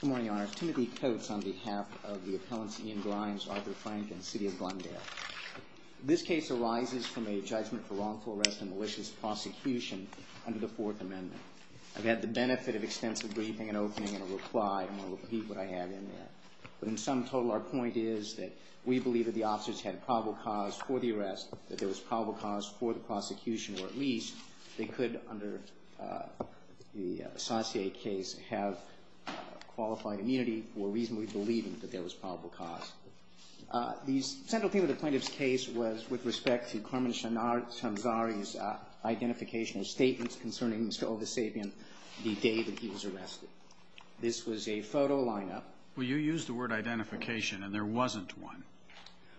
Good morning, Your Honor. Timothy Coates on behalf of the appellants Ian Grimes, Arthur Frank, and City of Glendale. This case arises from a judgment for wrongful arrest and malicious prosecution under the Fourth Amendment. I've had the benefit of extensive briefing and opening and a reply, and I'll repeat what I have in there. But in sum total, our point is that we believe that the officers had probable cause for the arrest, that there was probable cause for the prosecution, or at least they could, under the associate case, have qualified immunity for reasonably believing that there was probable cause. The central theme of the plaintiff's case was with respect to Carmen Shanzari's identification or statements concerning Mr. Ovasapyan the day that he was arrested. This was a photo lineup. Well, you used the word identification, and there wasn't one.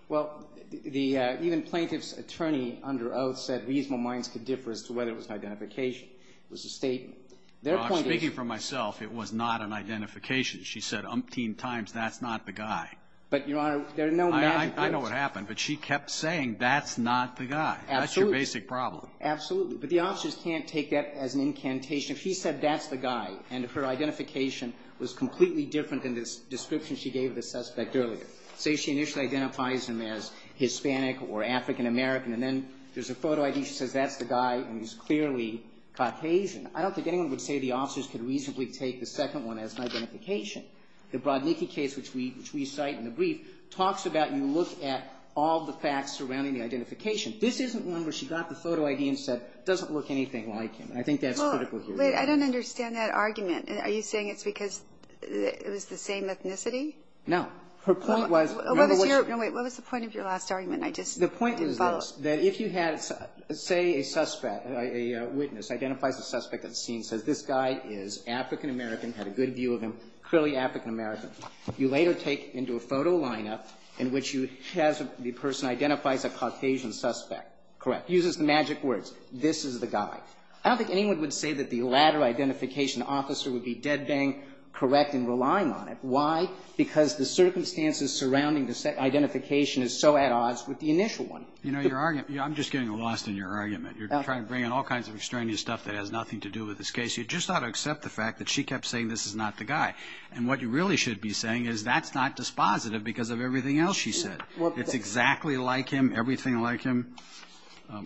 Well, even the plaintiff's attorney under oath said reasonable minds could differ as to whether it was an identification. It was a statement. Their point is -- Well, I'm speaking for myself. It was not an identification. She said umpteen times, that's not the guy. But, Your Honor, there are no magic words. I know what happened, but she kept saying, that's not the guy. Absolutely. That's your basic problem. Absolutely. But the officers can't take that as an incantation. If she said, that's the guy, and her identification was completely different than the description she gave the suspect earlier. Say she initially identifies him as Hispanic or African American, and then there's a photo ID. She says, that's the guy, and he's clearly Caucasian. I don't think anyone would say the officers could reasonably take the second one as an identification. The Brodniki case, which we cite in the brief, talks about you look at all the facts surrounding the identification. This isn't one where she got the photo ID and said, it doesn't look anything like him. I think that's critical here. Well, wait. I don't understand that argument. Are you saying it's because it was the same ethnicity? No. Her point was -- No, wait. What was the point of your last argument? I just didn't follow. That if you had, say, a suspect, a witness identifies a suspect at the scene, says this guy is African American, had a good view of him, clearly African American. You later take into a photo lineup in which you have the person identifies a Caucasian suspect. Correct. Uses the magic words. This is the guy. I don't think anyone would say that the latter identification officer would be dead bang correct in relying on it. Why? Because the circumstances surrounding the identification is so at odds with the initial one. You know, your argument, I'm just getting lost in your argument. You're trying to bring in all kinds of extraneous stuff that has nothing to do with this case. You just ought to accept the fact that she kept saying this is not the guy. And what you really should be saying is that's not dispositive because of everything else she said. It's exactly like him, everything like him.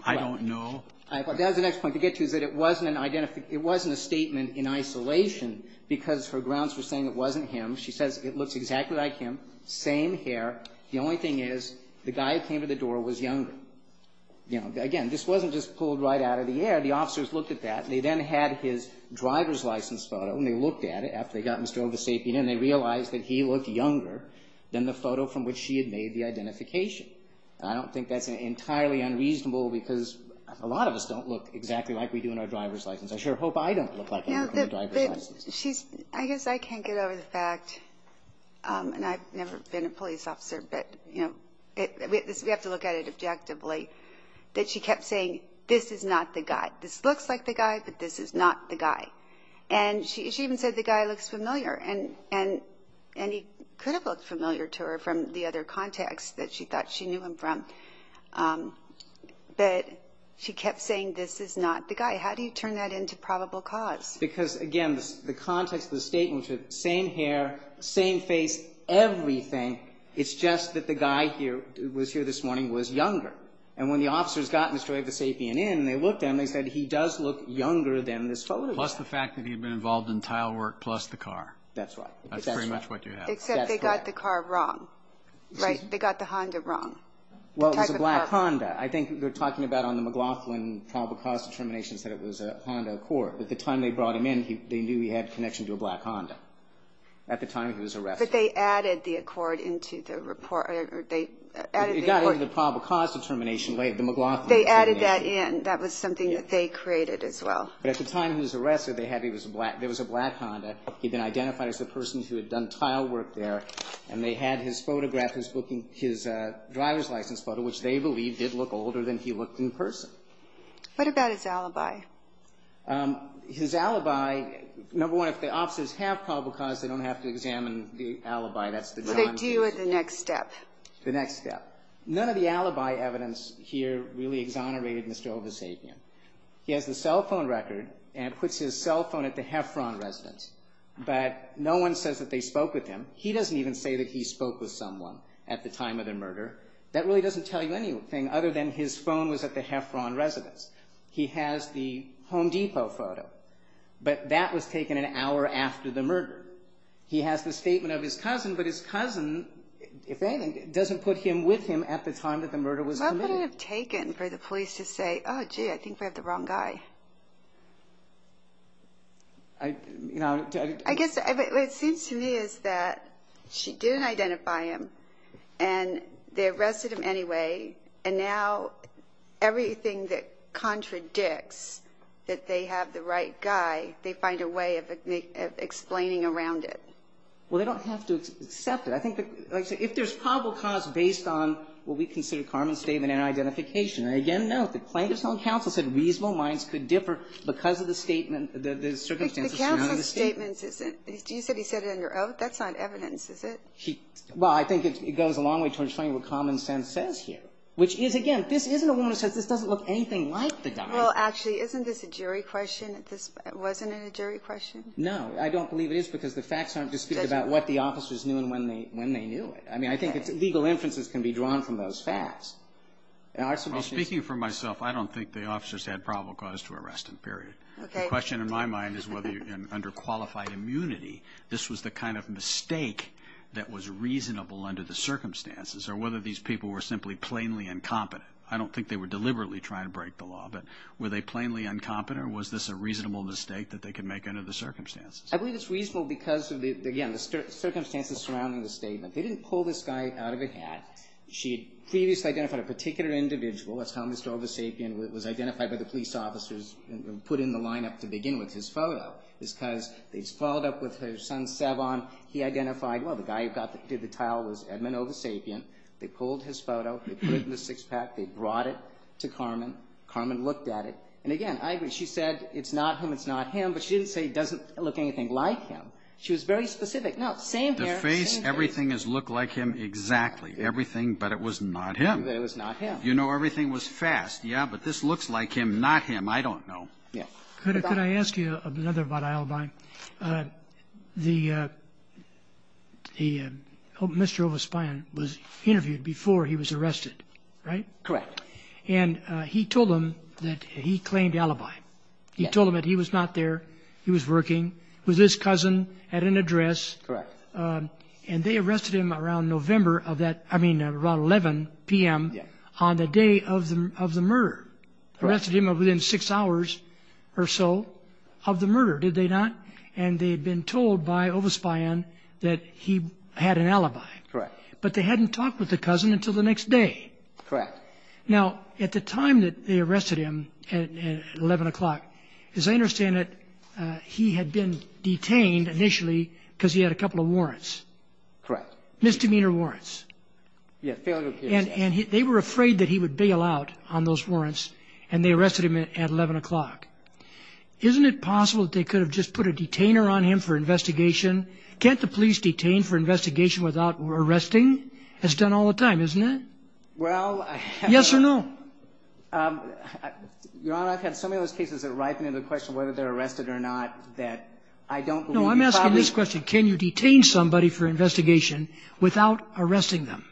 I don't know. That's the next point to get to, is that it wasn't an identification. It wasn't a statement in isolation because her grounds were saying it wasn't him. She says it looks exactly like him, same hair. The only thing is the guy who came to the door was younger. Again, this wasn't just pulled right out of the air. The officers looked at that. They then had his driver's license photo, and they looked at it after they got Mr. Ovasapien, and they realized that he looked younger than the photo from which she had made the identification. I don't think that's entirely unreasonable because a lot of us don't look exactly like we do in our driver's license. I guess I can't get over the fact, and I've never been a police officer, but we have to look at it objectively, that she kept saying this is not the guy. This looks like the guy, but this is not the guy. And she even said the guy looks familiar, and he could have looked familiar to her from the other contacts that she thought she knew him from, but she kept saying this is not the guy. How do you turn that into probable cause? Because, again, the context of the statement was the same hair, same face, everything. It's just that the guy who was here this morning was younger. And when the officers got Mr. Ovasapien in and they looked at him, they said he does look younger than this photo. Plus the fact that he had been involved in tile work plus the car. That's right. That's pretty much what you have. Except they got the car wrong, right? They got the Honda wrong. Well, it was a black Honda. I think they're talking about on the McLaughlin probable cause determinations that it was a Honda Accord. At the time they brought him in, they knew he had connection to a black Honda. At the time he was arrested. But they added the Accord into the report. They added the Accord. It got into the probable cause determination later, the McLaughlin. They added that in. That was something that they created as well. But at the time he was arrested, there was a black Honda. He had been identified as the person who had done tile work there. And they had his photograph, his driver's license photo, which they believed did look older than he looked in person. What about his alibi? His alibi, number one, if the officers have probable cause, they don't have to examine the alibi. That's the drawing piece. But they do at the next step. The next step. None of the alibi evidence here really exonerated Mr. Ovasavian. He has the cell phone record and puts his cell phone at the Heffron residence. But no one says that they spoke with him. He doesn't even say that he spoke with someone at the time of the murder. That really doesn't tell you anything other than his phone was at the Heffron residence. He has the Home Depot photo. But that was taken an hour after the murder. He has the statement of his cousin. But his cousin, if anything, doesn't put him with him at the time that the murder was committed. What would it have taken for the police to say, oh, gee, I think we have the wrong guy? I guess what it seems to me is that she didn't identify him. And they arrested him anyway. And now everything that contradicts that they have the right guy, they find a way of explaining around it. Well, they don't have to accept it. I think, like I said, if there's probable cause based on what we consider Carmen's statement and identification. And, again, note that plaintiff's own counsel said reasonable minds could differ because of the statement, the circumstances surrounding the statement. The counsel's statement, do you say he said it under oath? That's not evidence, is it? Well, I think it goes a long way towards showing what common sense says here. Which is, again, this isn't a woman who says this doesn't look anything like the guy. Well, actually, isn't this a jury question? Wasn't it a jury question? No. I don't believe it is because the facts aren't disputed about what the officers knew and when they knew it. I mean, I think legal inferences can be drawn from those facts. Well, speaking for myself, I don't think the officers had probable cause to arrest him, period. Okay. The question in my mind is whether under qualified immunity this was the kind of mistake that was reasonable under the circumstances or whether these people were simply plainly incompetent. I don't think they were deliberately trying to break the law, but were they plainly incompetent or was this a reasonable mistake that they could make under the circumstances? I believe it's reasonable because, again, the circumstances surrounding the statement. They didn't pull this guy out of a hat. She had previously identified a particular individual. That's how Mr. Ovasapien was identified by the police officers and put in the lineup to begin with his photo is because they followed up with her son Savon. He identified, well, the guy who did the tile was Edmond Ovasapien. They pulled his photo. They put it in the six-pack. They brought it to Carmen. Carmen looked at it. And, again, I agree. She said it's not him, it's not him, but she didn't say it doesn't look anything like him. She was very specific. No, same hair, same face. The face, everything has looked like him exactly, everything, but it was not him. But it was not him. You know, everything was fast. Yeah, but this looks like him, not him. I don't know. Yeah. Could I ask you another about Alibi? The Mr. Ovasapien was interviewed before he was arrested, right? Correct. And he told them that he claimed Alibi. He told them that he was not there, he was working with his cousin at an address. Correct. And they arrested him around November of that, I mean around 11 p.m. on the day of the murder. Correct. Arrested him within six hours or so of the murder, did they not? And they had been told by Ovasapien that he had an Alibi. Correct. But they hadn't talked with the cousin until the next day. Correct. Now, at the time that they arrested him at 11 o'clock, as I understand it, he had been detained initially because he had a couple of warrants. Correct. Misdemeanor warrants. Yeah, failure case. And they were afraid that he would bail out on those warrants, and they arrested him at 11 o'clock. Isn't it possible that they could have just put a detainer on him for investigation? Can't the police detain for investigation without arresting? That's done all the time, isn't it? Well, I have not. Yes or no? Your Honor, I've had so many of those cases that ripen into the question whether they're arrested or not that I don't believe you probably could. No. I'm asking this question. Can you detain somebody for investigation without arresting them?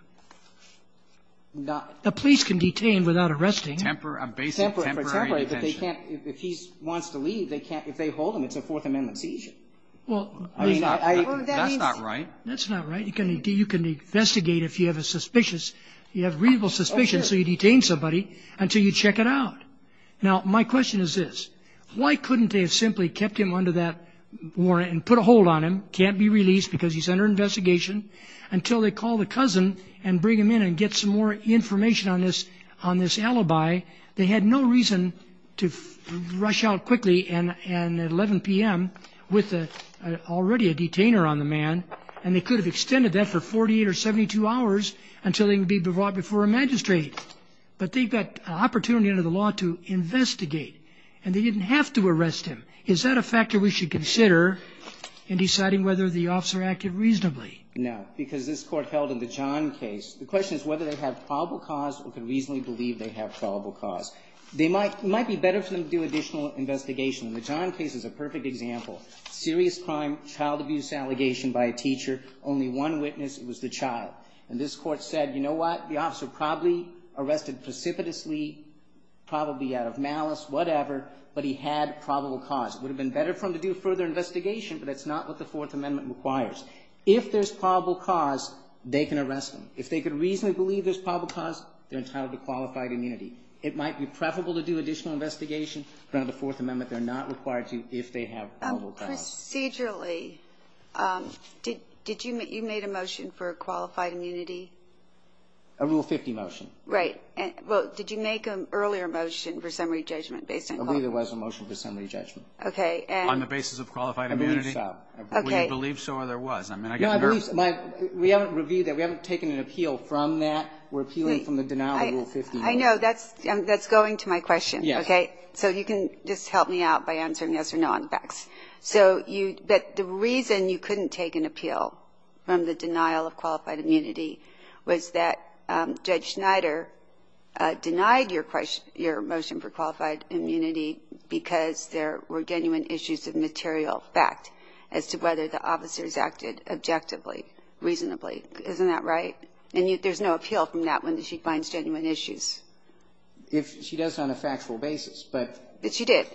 The police can detain without arresting. Temporary. A basic temporary detention. Temporary. But they can't, if he wants to leave, they can't. If they hold him, it's a Fourth Amendment seizure. Well, I mean, that's not right. That's not right. You can investigate if you have a suspicious, you have reasonable suspicion, so you detain somebody until you check it out. Now, my question is this. Why couldn't they have simply kept him under that warrant and put a hold on him, can't be released because he's under investigation, until they call the cousin and bring him in and get some more information on this alibi? They had no reason to rush out quickly and at 11 p.m. with already a detainer on the man, and they could have extended that for 48 or 72 hours until he could be brought before a magistrate. But they got an opportunity under the law to investigate, and they didn't have to arrest him. Is that a factor we should consider in deciding whether the officer acted reasonably? No, because this Court held in the John case, the question is whether they have probable cause or could reasonably believe they have probable cause. It might be better for them to do additional investigation. The John case is a perfect example. Serious crime, child abuse allegation by a teacher, only one witness, it was the child. And this Court said, you know what, the officer probably arrested precipitously, probably out of malice, whatever, but he had probable cause. It would have been better for them to do further investigation, but that's not what the Fourth Amendment requires. If there's probable cause, they can arrest him. If they could reasonably believe there's probable cause, they're entitled to qualified immunity. It might be preferable to do additional investigation, but under the Fourth Amendment, they're not required to if they have probable cause. Procedurally, did you make a motion for a qualified immunity? A Rule 50 motion. Right. Well, did you make an earlier motion for summary judgment based on the law? I believe there was a motion for summary judgment. Okay. On the basis of qualified immunity. I believe so. Okay. Well, you believe so or there was. I mean, I get hurt. We haven't reviewed that. We haven't taken an appeal from that. We're appealing from the denial of Rule 50. That's going to my question. Okay. So you can just help me out by answering yes or no on the facts. So you – but the reason you couldn't take an appeal from the denial of qualified immunity was that Judge Schneider denied your motion for qualified immunity because there were genuine issues of material fact as to whether the officers acted objectively, reasonably. Isn't that right? And there's no appeal from that when she finds genuine issues. If she does it on a factual basis, but – But she did,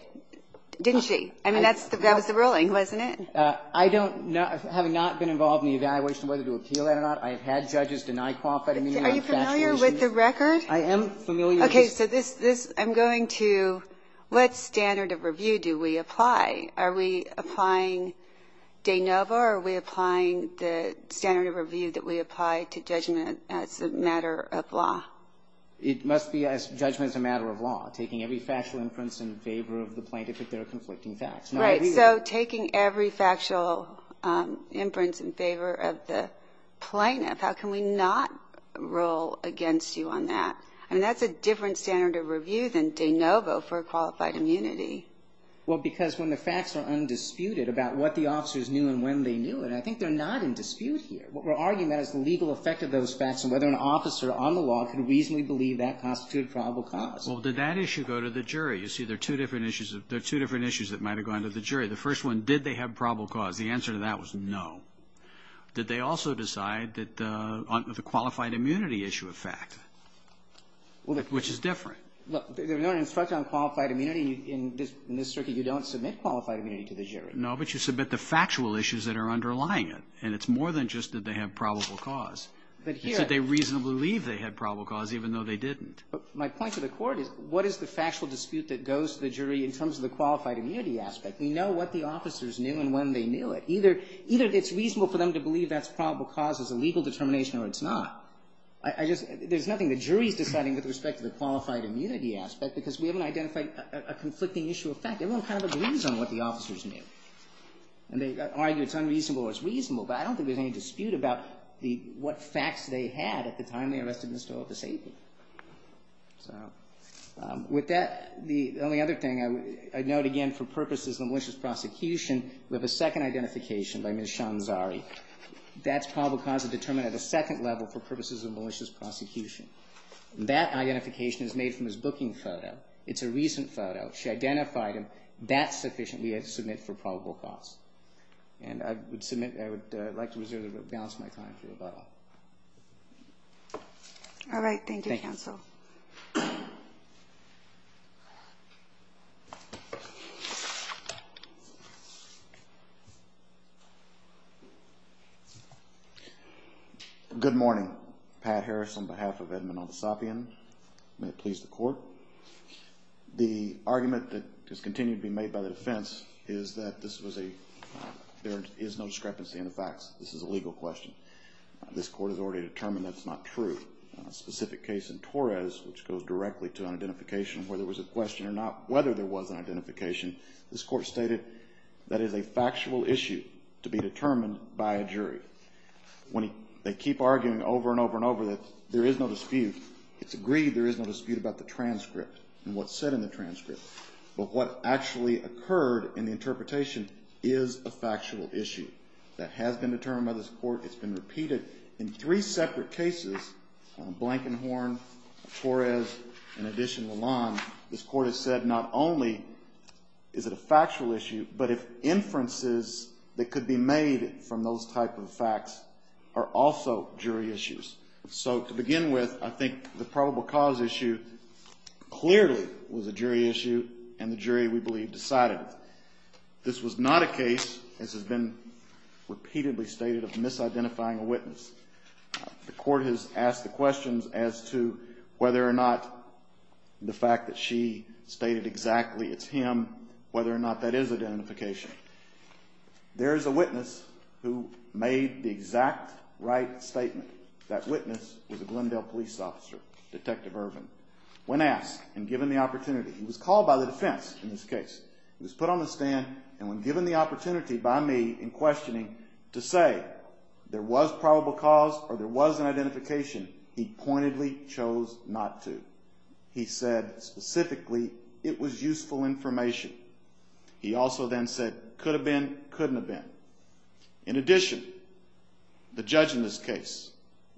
didn't she? I mean, that was the ruling, wasn't it? I don't know. I have not been involved in the evaluation of whether to appeal that or not. I have had judges deny qualified immunity on factual issues. Are you familiar with the record? I am familiar. Okay. So this – I'm going to – what standard of review do we apply? Are we applying de novo or are we applying the standard of review that we apply to judgment as a matter of law? It must be as judgment as a matter of law, taking every factual inference in favor of the plaintiff if there are conflicting facts. Right. So taking every factual inference in favor of the plaintiff, how can we not roll against you on that? I mean, that's a different standard of review than de novo for qualified immunity. Well, because when the facts are undisputed about what the officers knew and when they knew it, I think they're not in dispute here. What we're arguing about is the legal effect of those facts and whether an officer on the law can reasonably believe that constitutes probable cause. Well, did that issue go to the jury? You see, there are two different issues that might have gone to the jury. The first one, did they have probable cause? The answer to that was no. Did they also decide that the – on the qualified immunity issue of fact, which is different. Look, there's no instruction on qualified immunity in this circuit. You don't submit qualified immunity to the jury. No, but you submit the factual issues that are underlying it, and it's more than just did they have probable cause. You said they reasonably believed they had probable cause even though they didn't. My point to the Court is what is the factual dispute that goes to the jury in terms of the qualified immunity aspect? We know what the officers knew and when they knew it. Either it's reasonable for them to believe that's probable cause as a legal determination or it's not. I just – there's nothing the jury's deciding with respect to the qualified immunity aspect because we haven't identified a conflicting issue of fact. Everyone kind of agrees on what the officers knew. And they argue it's unreasonable or it's reasonable, but I don't think there's any dispute about the – what facts they had at the time they arrested Mr. Opus Abe. So with that, the only other thing I note again for purposes of malicious prosecution, we have a second identification by Ms. Shanzari. That's probable cause determined at a second level for purposes of malicious prosecution. That identification is made from his booking photo. It's a recent photo. She identified him. That's sufficient. We have to submit for probable cause. And I would submit – I would like to reserve the balance of my time for about all. All right. Thank you, counsel. Thank you. Good morning. Pat Harris on behalf of Edmond Olisapian. May it please the Court. The argument that has continued to be made by the defense is that this was a – there is no discrepancy in the facts. This is a legal question. This Court has already determined that it's not true. A specific case in Torres, which goes directly to an identification where there was a question or not whether there was an identification, this Court stated that it is a factual issue to be determined by a jury. When they keep arguing over and over and over that there is no dispute, it's said in the transcript. But what actually occurred in the interpretation is a factual issue. That has been determined by this Court. It's been repeated in three separate cases, Blankenhorn, Torres, and addition Lalonde. This Court has said not only is it a factual issue, but if inferences that could be made from those type of facts are also jury issues. So to begin with, I think the probable cause issue clearly was a jury issue and the jury, we believe, decided it. This was not a case, as has been repeatedly stated, of misidentifying a witness. The Court has asked the questions as to whether or not the fact that she stated exactly it's him, whether or not that is identification. There is a witness who made the exact right statement. That witness was a Glendale police officer, Detective Irvin. When asked and given the opportunity, he was called by the defense in this case. He was put on the stand and when given the opportunity by me in questioning to say there was probable cause or there was an identification, he pointedly chose not to. He said specifically it was useful information. He also then said could have been, couldn't have been. In addition, the judge in this case,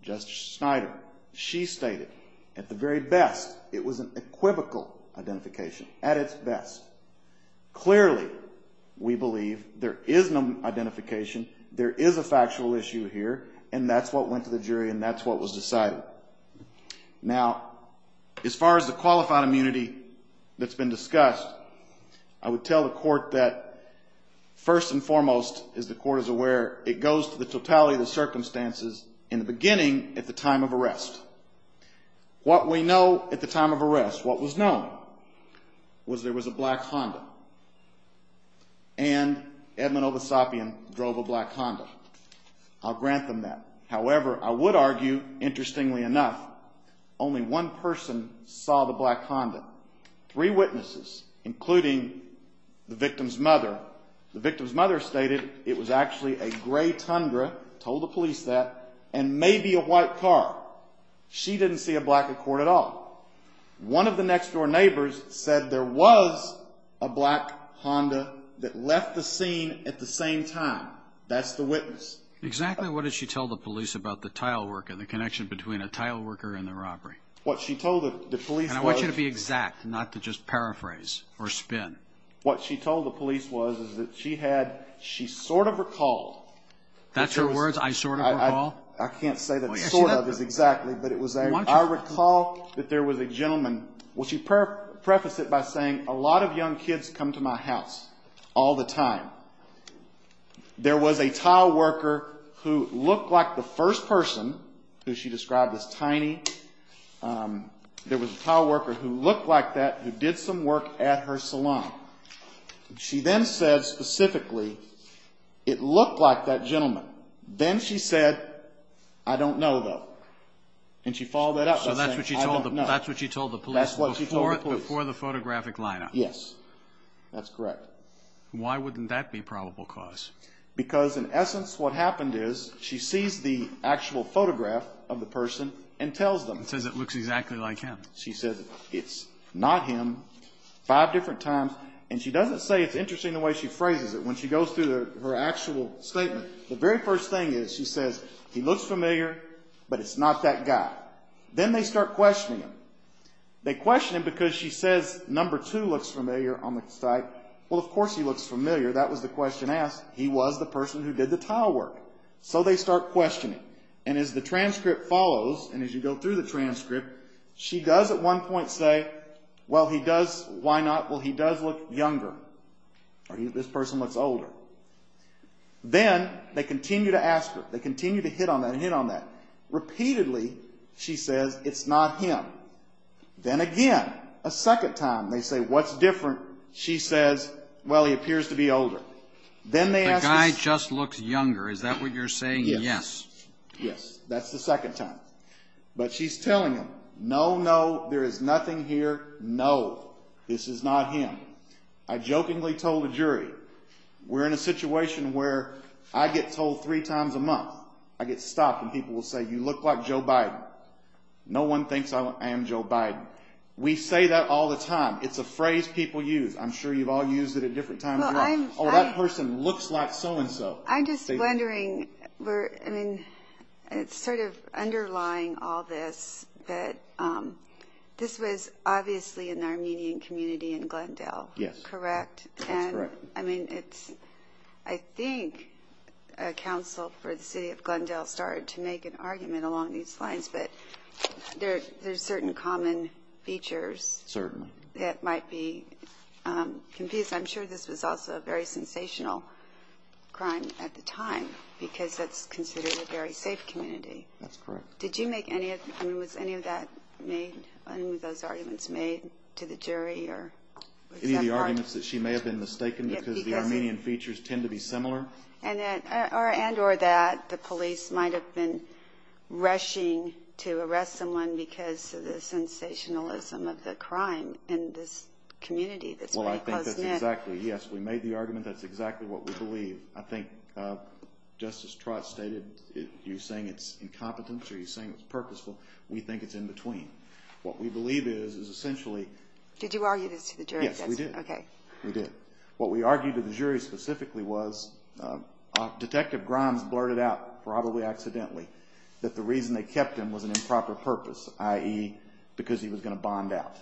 Justice Schneider, she stated at the very best it was an equivocal identification, at its best. Clearly, we believe there is no identification, there is a factual issue here, and that's what went to the jury and that's what was decided. Now, as far as the qualified immunity that's been discussed, I would tell the court that first and foremost, as the court is aware, it goes to the totality of the circumstances in the beginning at the time of arrest. What we know at the time of arrest, what was known, was there was a black Honda and Edmund Ovasopian drove a black Honda. I'll grant them that. However, I would argue, interestingly enough, only one person saw the black Honda. Three witnesses, including the victim's mother. The victim's mother stated it was actually a gray Tundra, told the police that, and maybe a white car. She didn't see a black Accord at all. One of the next-door neighbors said there was a black Honda that left the scene at the same time. That's the witness. Exactly what did she tell the police about the tile worker and the connection between a tile worker and the robbery? What she told the police was. And I want you to be exact, not to just paraphrase or spin. What she told the police was is that she had, she sort of recalled. That's her words, I sort of recall? I can't say that sort of is exactly, but it was, I recall that there was a gentleman, well, she prefaced it by saying, a lot of young kids come to my house all the time. There was a tile worker who looked like the first person who she described as tiny. There was a tile worker who looked like that, who did some work at her salon. She then said specifically, it looked like that gentleman. Then she said, I don't know, though. And she followed that up by saying, I don't know. So that's what she told the police before the photographic lineup. Yes. That's correct. But why wouldn't that be probable cause? Because, in essence, what happened is she sees the actual photograph of the person and tells them. She says it looks exactly like him. She says it's not him five different times. And she doesn't say it's interesting the way she phrases it. When she goes through her actual statement, the very first thing is she says, he looks familiar, but it's not that guy. Then they start questioning him. They question him because she says number two looks familiar on the site. Well, of course he looks familiar. That was the question asked. He was the person who did the tile work. So they start questioning. And as the transcript follows, and as you go through the transcript, she does at one point say, well, he does. Why not? Well, he does look younger. Or this person looks older. Then they continue to ask her. They continue to hit on that and hit on that. Repeatedly she says it's not him. Then again, a second time they say, what's different? She says, well, he appears to be older. The guy just looks younger. Is that what you're saying? Yes. Yes. That's the second time. But she's telling them, no, no, there is nothing here. No, this is not him. I jokingly told a jury, we're in a situation where I get told three times a month. I get stopped and people will say, you look like Joe Biden. No one thinks I am Joe Biden. We say that all the time. It's a phrase people use. I'm sure you've all used it at different times. Oh, that person looks like so-and-so. I'm just wondering, it's sort of underlying all this, but this was obviously an Armenian community in Glendale. Yes. Correct? That's correct. I think a counsel for the city of Glendale started to make an argument along these lines, but there are certain common features that might be confused. I'm sure this was also a very sensational crime at the time because that's considered a very safe community. That's correct. Was any of those arguments made to the jury? Any of the arguments that she may have been mistaken because the Armenian features tend to be similar? And or that the police might have been rushing to arrest someone because of the sensationalism of the crime in this community that's very close-knit. Well, I think that's exactly. Yes, we made the argument. That's exactly what we believe. I think Justice Trott stated you're saying it's incompetence or you're saying it's purposeful. We think it's in between. What we believe is is essentially. Did you argue this to the jury? Yes, we did. Okay. We did. What we argued to the jury specifically was Detective Grimes blurted out probably accidentally that the reason they kept him was an improper purpose, i.e., because he was going to bond out.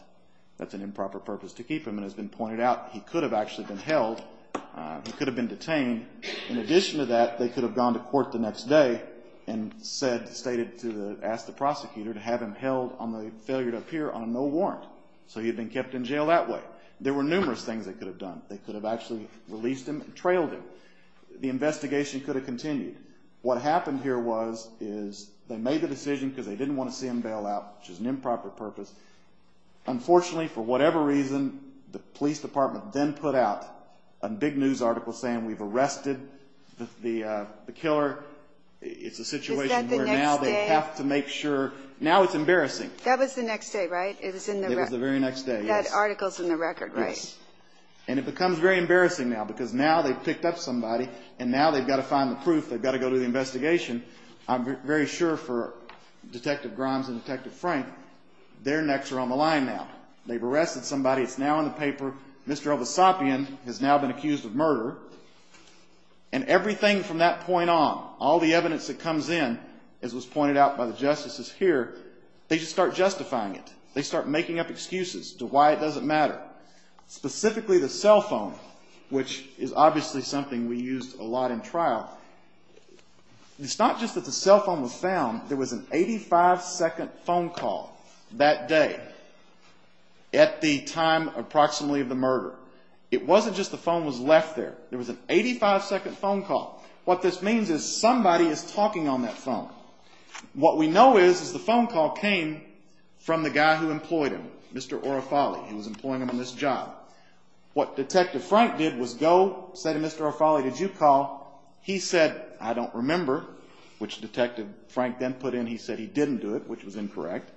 That's an improper purpose to keep him, and it's been pointed out he could have actually been held. He could have been detained. In addition to that, they could have gone to court the next day and stated to ask the prosecutor to have him held on the failure to appear on a no warrant so he had been kept in jail that way. There were numerous things they could have done. They could have actually released him and trailed him. The investigation could have continued. What happened here was is they made the decision because they didn't want to see him bailed out, which is an improper purpose. Unfortunately, for whatever reason, the police department then put out a big news article saying we've arrested the killer. It's a situation where now they have to make sure. Is that the next day? Now it's embarrassing. That was the next day, right? It was the very next day, yes. That article's in the record, right? Yes. And it becomes very embarrassing now because now they've picked up somebody and now they've got to find the proof. They've got to go do the investigation. I'm very sure for Detective Grimes and Detective Frank their necks are on the line now. They've arrested somebody. It's now in the paper. Mr. Elvasapien has now been accused of murder. And everything from that point on, all the evidence that comes in, as was pointed out by the justices here, they just start justifying it. They start making up excuses to why it doesn't matter. Specifically the cell phone, which is obviously something we used a lot in trial. It's not just that the cell phone was found. There was an 85-second phone call that day at the time approximately of the murder. It wasn't just the phone was left there. There was an 85-second phone call. What this means is somebody is talking on that phone. What we know is the phone call came from the guy who employed him, Mr. Orofale. He was employing him on this job. What Detective Frank did was go, say to Mr. Orofale, did you call? He said, I don't remember, which Detective Frank then put in. He said he didn't do it, which was incorrect.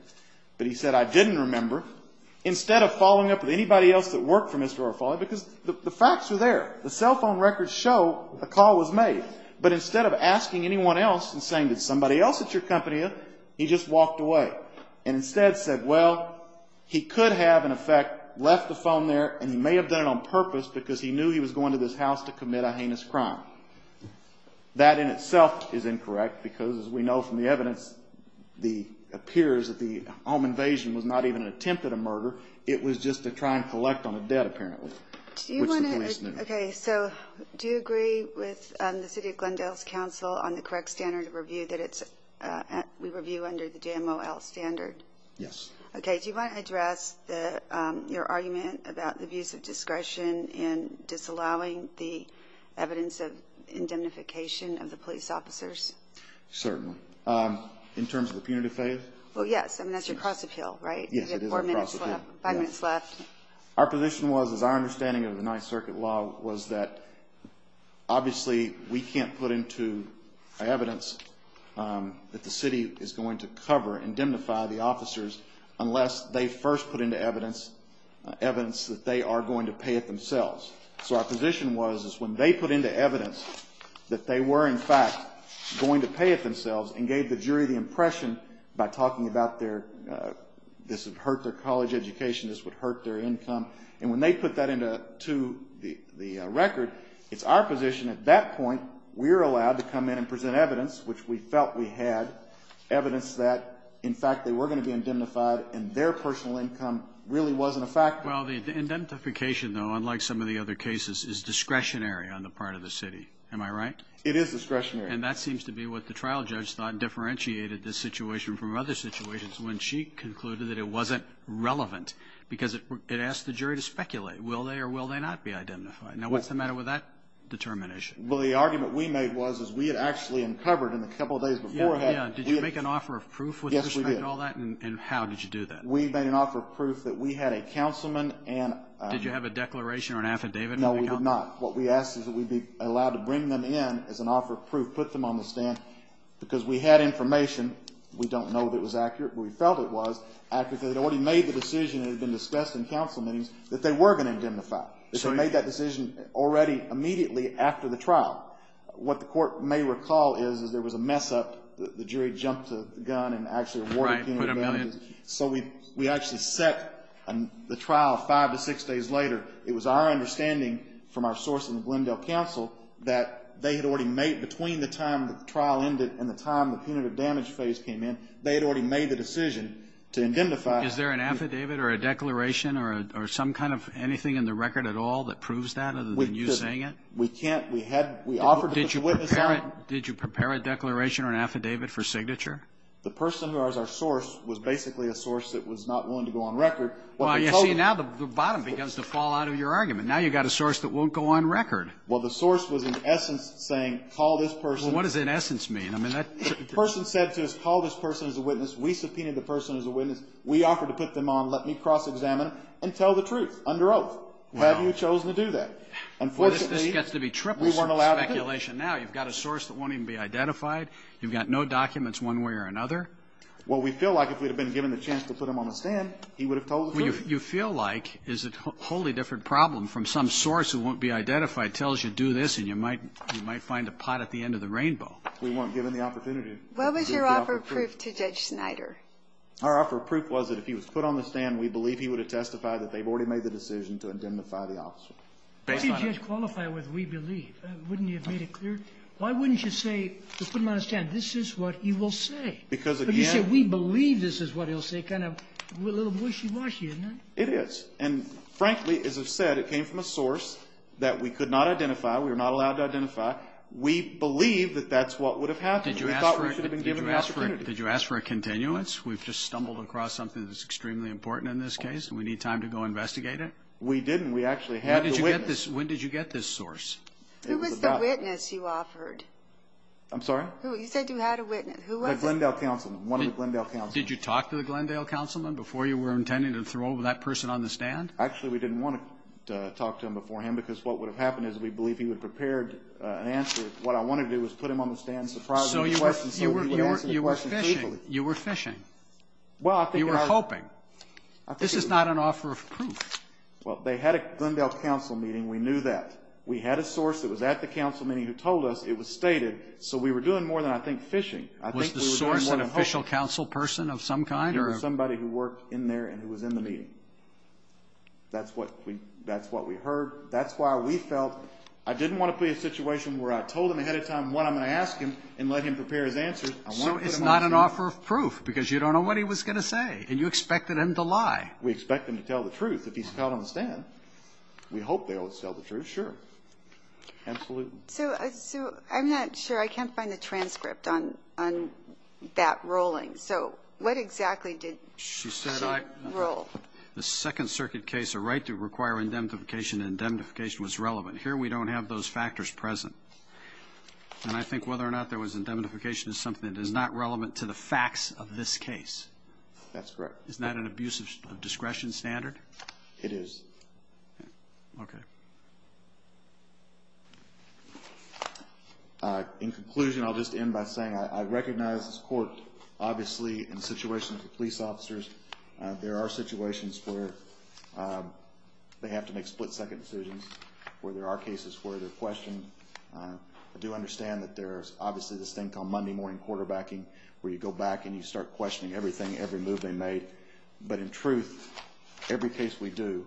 But he said, I didn't remember. Instead of following up with anybody else that worked for Mr. Orofale, because the facts are there. The cell phone records show a call was made. But instead of asking anyone else and saying, did somebody else at your company, he just walked away. And instead said, well, he could have, in effect, left the phone there, and he may have done it on purpose because he knew he was going to this house to commit a heinous crime. That in itself is incorrect because, as we know from the evidence, it appears that the home invasion was not even an attempt at a murder. It was just to try and collect on a debt, apparently, which the police knew. Okay. So do you agree with the City of Glendale's counsel on the correct standard of review that we review under the JMOL standard? Yes. Okay. Do you want to address your argument about the abuse of discretion in disallowing the evidence of indemnification of the police officers? Certainly. In terms of the punitive phase? Well, yes. I mean, that's your cross-appeal, right? Yes, it is our cross-appeal. You have four minutes left, five minutes left. Our position was, as our understanding of the Ninth Circuit law, was that obviously we can't put into evidence that the city is going to cover and indemnify the officers unless they first put into evidence evidence that they are going to pay it themselves. So our position was that when they put into evidence that they were, in fact, going to pay it themselves and gave the jury the impression by talking about this would hurt their college education, this would hurt their income, and when they put that into the record, it's our position at that point we're allowed to come in and present evidence, which we felt we had, evidence that, in fact, they were going to be indemnified and their personal income really wasn't a factor. Well, the indemnification, though, unlike some of the other cases, is discretionary on the part of the city. Am I right? It is discretionary. And that seems to be what the trial judge thought differentiated this situation from other situations when she concluded that it wasn't relevant because it asked the jury to speculate. Will they or will they not be identified? Now, what's the matter with that determination? Well, the argument we made was we had actually uncovered in the couple of days beforehand. Yeah, yeah. Did you make an offer of proof with respect to all that? Yes, we did. And how did you do that? We made an offer of proof that we had a councilman and... Did you have a declaration or an affidavit? No, we did not. What we asked is that we be allowed to bring them in as an offer of proof, put them on the stand, because we had information. We don't know that it was accurate, but we felt it was accurate. They had already made the decision that had been discussed in council meetings that they were going to indemnify. They had made that decision already immediately after the trial. What the court may recall is there was a mess-up. The jury jumped the gun and actually awarded punitive damages. Right, put a million. So we actually set the trial five to six days later. It was our understanding from our source in the Glendale Council that they had already made, between the time the trial ended and the time the punitive damage phase came in, they had already made the decision to indemnify. Is there an affidavit or a declaration or some kind of anything in the record at all that proves that other than you saying it? We can't. We offered to put a witness on them. Did you prepare a declaration or an affidavit for signature? The person who was our source was basically a source that was not willing to go on record. Well, you see, now the bottom begins to fall out of your argument. Now you've got a source that won't go on record. Well, the source was in essence saying, call this person. What does in essence mean? The person said to us, call this person as a witness. We subpoenaed the person as a witness. We offered to put them on. Let me cross-examine and tell the truth under oath. Have you chosen to do that? Well, if this gets to be tripled speculation now, you've got a source that won't even be identified. You've got no documents one way or another. Well, we feel like if we'd have been given the chance to put him on the stand, he would have told the truth. What you feel like is a wholly different problem from some source who won't be identified, tells you, do this, and you might find a pot at the end of the rainbow. We weren't given the opportunity. What was your offer of proof to Judge Snyder? Our offer of proof was that if he was put on the stand, we believe he would have testified that they've already made the decision to indemnify the officer. What do you just qualify with, we believe? Wouldn't you have made it clear? Why wouldn't you say, to put him on the stand, this is what he will say? Because again we believe this is what he'll say. It's kind of a little wishy-washy, isn't it? It is. And frankly, as I've said, it came from a source that we could not identify, we were not allowed to identify. We believe that that's what would have happened. We thought we should have been given the opportunity. Did you ask for a continuance? We've just stumbled across something that's extremely important in this case, and we need time to go investigate it? We didn't. We actually had a witness. When did you get this source? Who was the witness you offered? I'm sorry? Who? You said you had a witness. Who was it? The Glendale Councilman, one of the Glendale Councilmen. Did you talk to the Glendale Councilman before you were intending to throw over that person on the stand? Actually, we didn't want to talk to him beforehand because what would have happened is we believe he would have prepared an answer. What I wanted to do was put him on the stand and surprise him with a question so he would answer the question faithfully. You were fishing. Well, I think I was. You were hoping. This is not an offer of proof. Well, they had a Glendale Council meeting. We knew that. We had a source that was at the Council meeting who told us it was stated, so we were doing more than I think fishing. Was the source an official Council person of some kind? He was somebody who worked in there and who was in the meeting. That's what we heard. That's why we felt I didn't want to put him in a situation where I told him ahead of time what I'm going to ask him and let him prepare his answer. So it's not an offer of proof because you don't know what he was going to say and you expected him to lie. We expect him to tell the truth. If he's caught on the stand, we hope they will tell the truth, sure. Absolutely. So I'm not sure. I can't find the transcript on that ruling. So what exactly did she rule? She said the Second Circuit case, a right to require indemnification, indemnification was relevant. Here we don't have those factors present. And I think whether or not there was indemnification is something that is not relevant to the facts of this case. That's correct. Isn't that an abuse of discretion standard? It is. Okay. In conclusion, I'll just end by saying I recognize this court, obviously, in situations with police officers, there are situations where they have to make split-second decisions, where there are cases where they're questioned. I do understand that there's obviously this thing called Monday morning quarterbacking, where you go back and you start questioning everything, every move they made. But in truth, every case we do,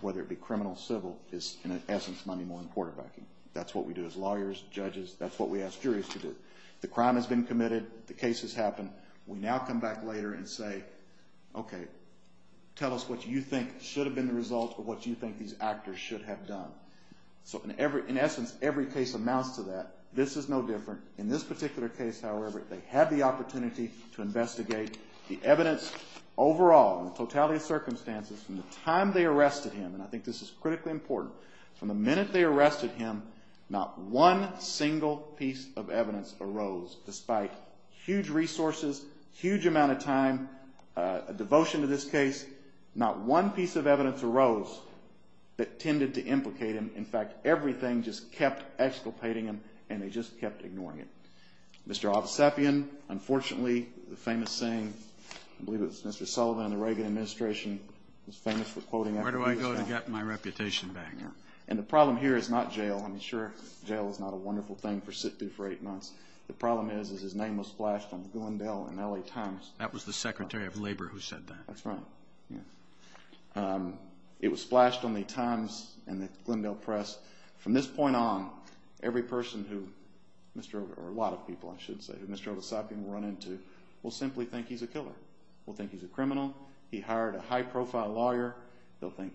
whether it be criminal, civil, is in essence Monday morning quarterbacking. That's what we do as lawyers, judges. That's what we ask juries to do. The crime has been committed. The case has happened. We now come back later and say, okay, tell us what you think should have been the result of what you think these actors should have done. So in essence, every case amounts to that. This is no different. In this particular case, however, they had the opportunity to investigate the evidence overall, the totality of circumstances from the time they arrested him. And I think this is critically important. From the minute they arrested him, not one single piece of evidence arose. Despite huge resources, huge amount of time, a devotion to this case, not one piece of evidence arose that tended to implicate him. In fact, everything just kept exculpating him, and they just kept ignoring him. Mr. Obsepian, unfortunately, the famous saying, I believe it was Mr. Sullivan, the Reagan administration, was famous for quoting him. Where do I go to get my reputation back? And the problem here is not jail. I mean, sure, jail is not a wonderful thing to sit through for eight months. The problem is, is his name was splashed on the Glendale and L.A. Times. That was the Secretary of Labor who said that. That's right. It was splashed on the Times and the Glendale Press. From this point on, every person who Mr. Obsepian, or a lot of people, I should say, who Mr. Obsepian will run into will simply think he's a killer, will think he's a criminal. He hired a high-profile lawyer. They'll think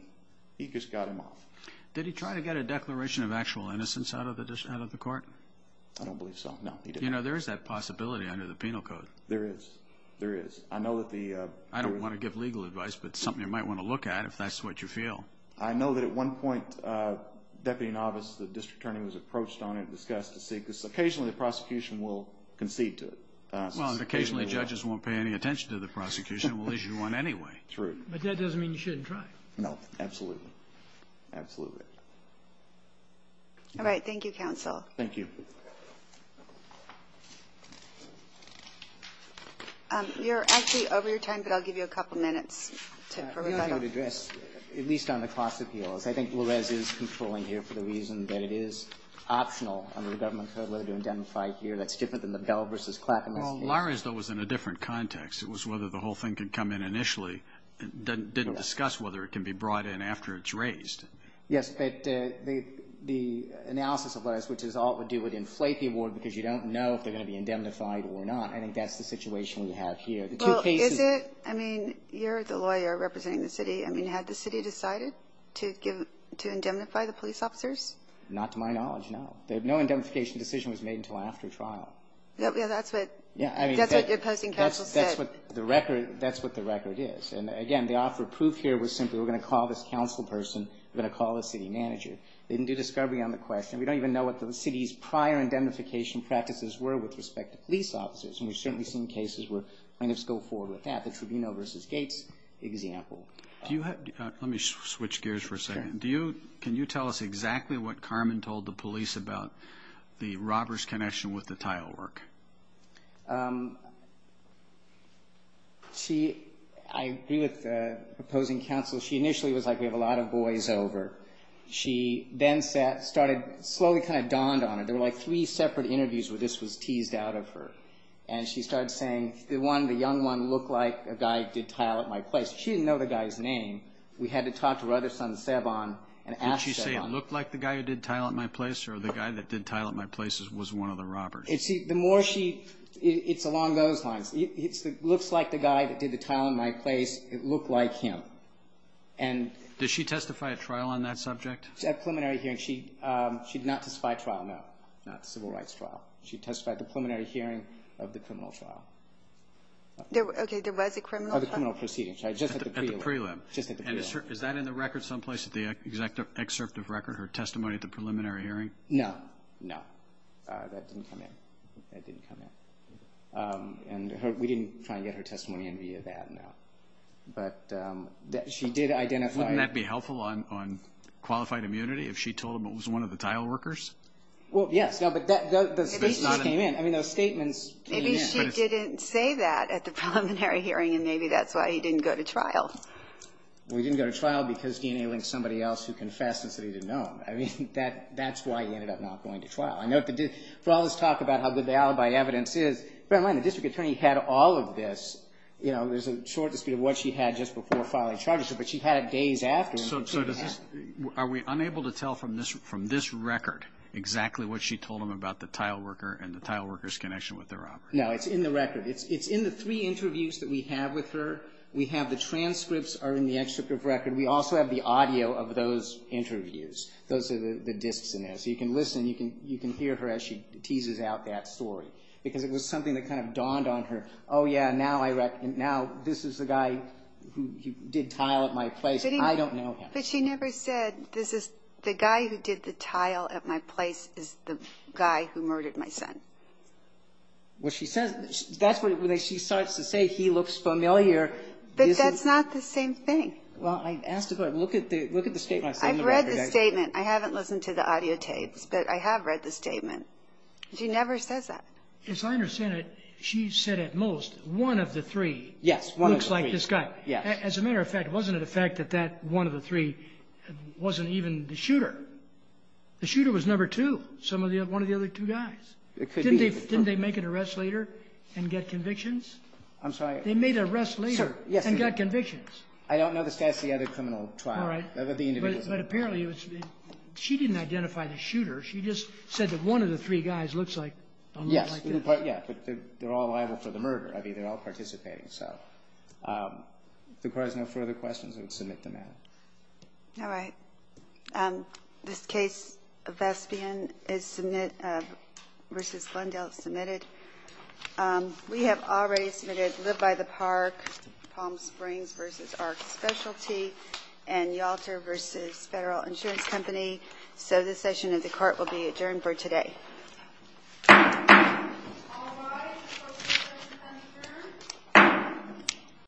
he just got him off. Did he try to get a declaration of actual innocence out of the court? I don't believe so. No, he didn't. You know, there is that possibility under the penal code. There is. There is. I know that the I don't want to give legal advice, but it's something you might want to look at if that's what you feel. I know that at one point, Deputy Novice, the District Attorney, was approached on it and discussed to see, because occasionally the prosecution will concede to it. Well, if occasionally judges won't pay any attention to the prosecution, we'll issue one anyway. True. But that doesn't mean you shouldn't try. No, absolutely. Absolutely. All right. Thank you, Counsel. Thank you. You're actually over your time, but I'll give you a couple of minutes for rebuttal. We want you to address, at least on the cost appeals, I think Larez is controlling here for the reason that it is optional under the government code law to identify here. That's different than the Bell v. Clackamas case. Well, Larez, though, was in a different context. It was whether the whole thing could come in initially. It didn't discuss whether it can be brought in after it's raised. Yes, but the analysis of Larez, which is all it would do would inflate the award because you don't know if they're going to be indemnified or not. I think that's the situation we have here. Well, is it? I mean, you're the lawyer representing the city. I mean, had the city decided to indemnify the police officers? Not to my knowledge, no. No indemnification decision was made until after trial. Yeah, that's what your opposing counsel said. That's what the record is. And, again, the offer of proof here was simply we're going to call this counsel person, we're going to call the city manager. They didn't do discovery on the question. We don't even know what the city's prior indemnification practices were with respect to police officers, and we've certainly seen cases where plaintiffs go forward with that. The Tribunal v. Gates example. Let me switch gears for a second. Can you tell us exactly what Carmen told the police about the robber's connection with the tile work? She, I agree with the opposing counsel, she initially was like we have a lot of boys over. She then started, slowly kind of dawned on it. There were like three separate interviews where this was teased out of her. And she started saying the one, the young one, looked like a guy who did tile at my place. She didn't know the guy's name. We had to talk to her other son, Sabon, and ask Sabon. Did she say it looked like the guy who did tile at my place or the guy that did tile at my place was one of the robbers? The more she, it's along those lines. It looks like the guy that did the tile at my place. It looked like him. Did she testify at trial on that subject? At preliminary hearing. She did not testify at trial, no. Not civil rights trial. She testified at the preliminary hearing of the criminal trial. Okay. There was a criminal trial? Of the criminal proceedings. At the prelim. Just at the prelim. Is that in the record someplace, the excerpt of record, her testimony at the preliminary hearing? No. No. That didn't come in. That didn't come in. And we didn't try and get her testimony in via that, no. But she did identify. Wouldn't that be helpful on qualified immunity if she told him it was one of the tile workers? Well, yes. No, but those statements came in. Maybe she didn't say that at the preliminary hearing, and maybe that's why he didn't go to trial. Well, he didn't go to trial because DNA linked somebody else who confessed and said he didn't know him. I mean, that's why he ended up not going to trial. For all this talk about how good the alibi evidence is, bear in mind the district attorney had all of this. You know, there's a short dispute of what she had just before filing charges, but she had it days after. So are we unable to tell from this record exactly what she told him about the tile worker and the tile worker's connection with the robber? No. It's in the record. It's in the three interviews that we have with her. We have the transcripts are in the excerpt of record. We also have the audio of those interviews. Those are the disks in there. So you can listen. You can hear her as she teases out that story because it was something that kind of dawned on her. Oh, yeah, now this is the guy who did tile at my place. I don't know him. But she never said this is the guy who did the tile at my place is the guy who murdered my son. Well, she says that's what she starts to say. He looks familiar. But that's not the same thing. Look at the statement. I've read the statement. I haven't listened to the audio tapes, but I have read the statement. She never says that. As I understand it, she said at most one of the three. Yes, one of the three. Looks like this guy. Yes. As a matter of fact, wasn't it a fact that that one of the three wasn't even the shooter? The shooter was number two, one of the other two guys. It could be. Didn't they make an arrest later and get convictions? I'm sorry. They made an arrest later and got convictions. I don't know the stats of the other criminal trial. All right. But apparently she didn't identify the shooter. She just said that one of the three guys looks like this. Yes. But they're all liable for the murder. I mean, they're all participating. So if the Court has no further questions, I would submit the matter. This case, Vespian v. Glendale, is submitted. We have already submitted Live by the Park, Palm Springs v. ARC Specialty, and Yalter v. Federal Insurance Company. So this session of the Court will be adjourned for today.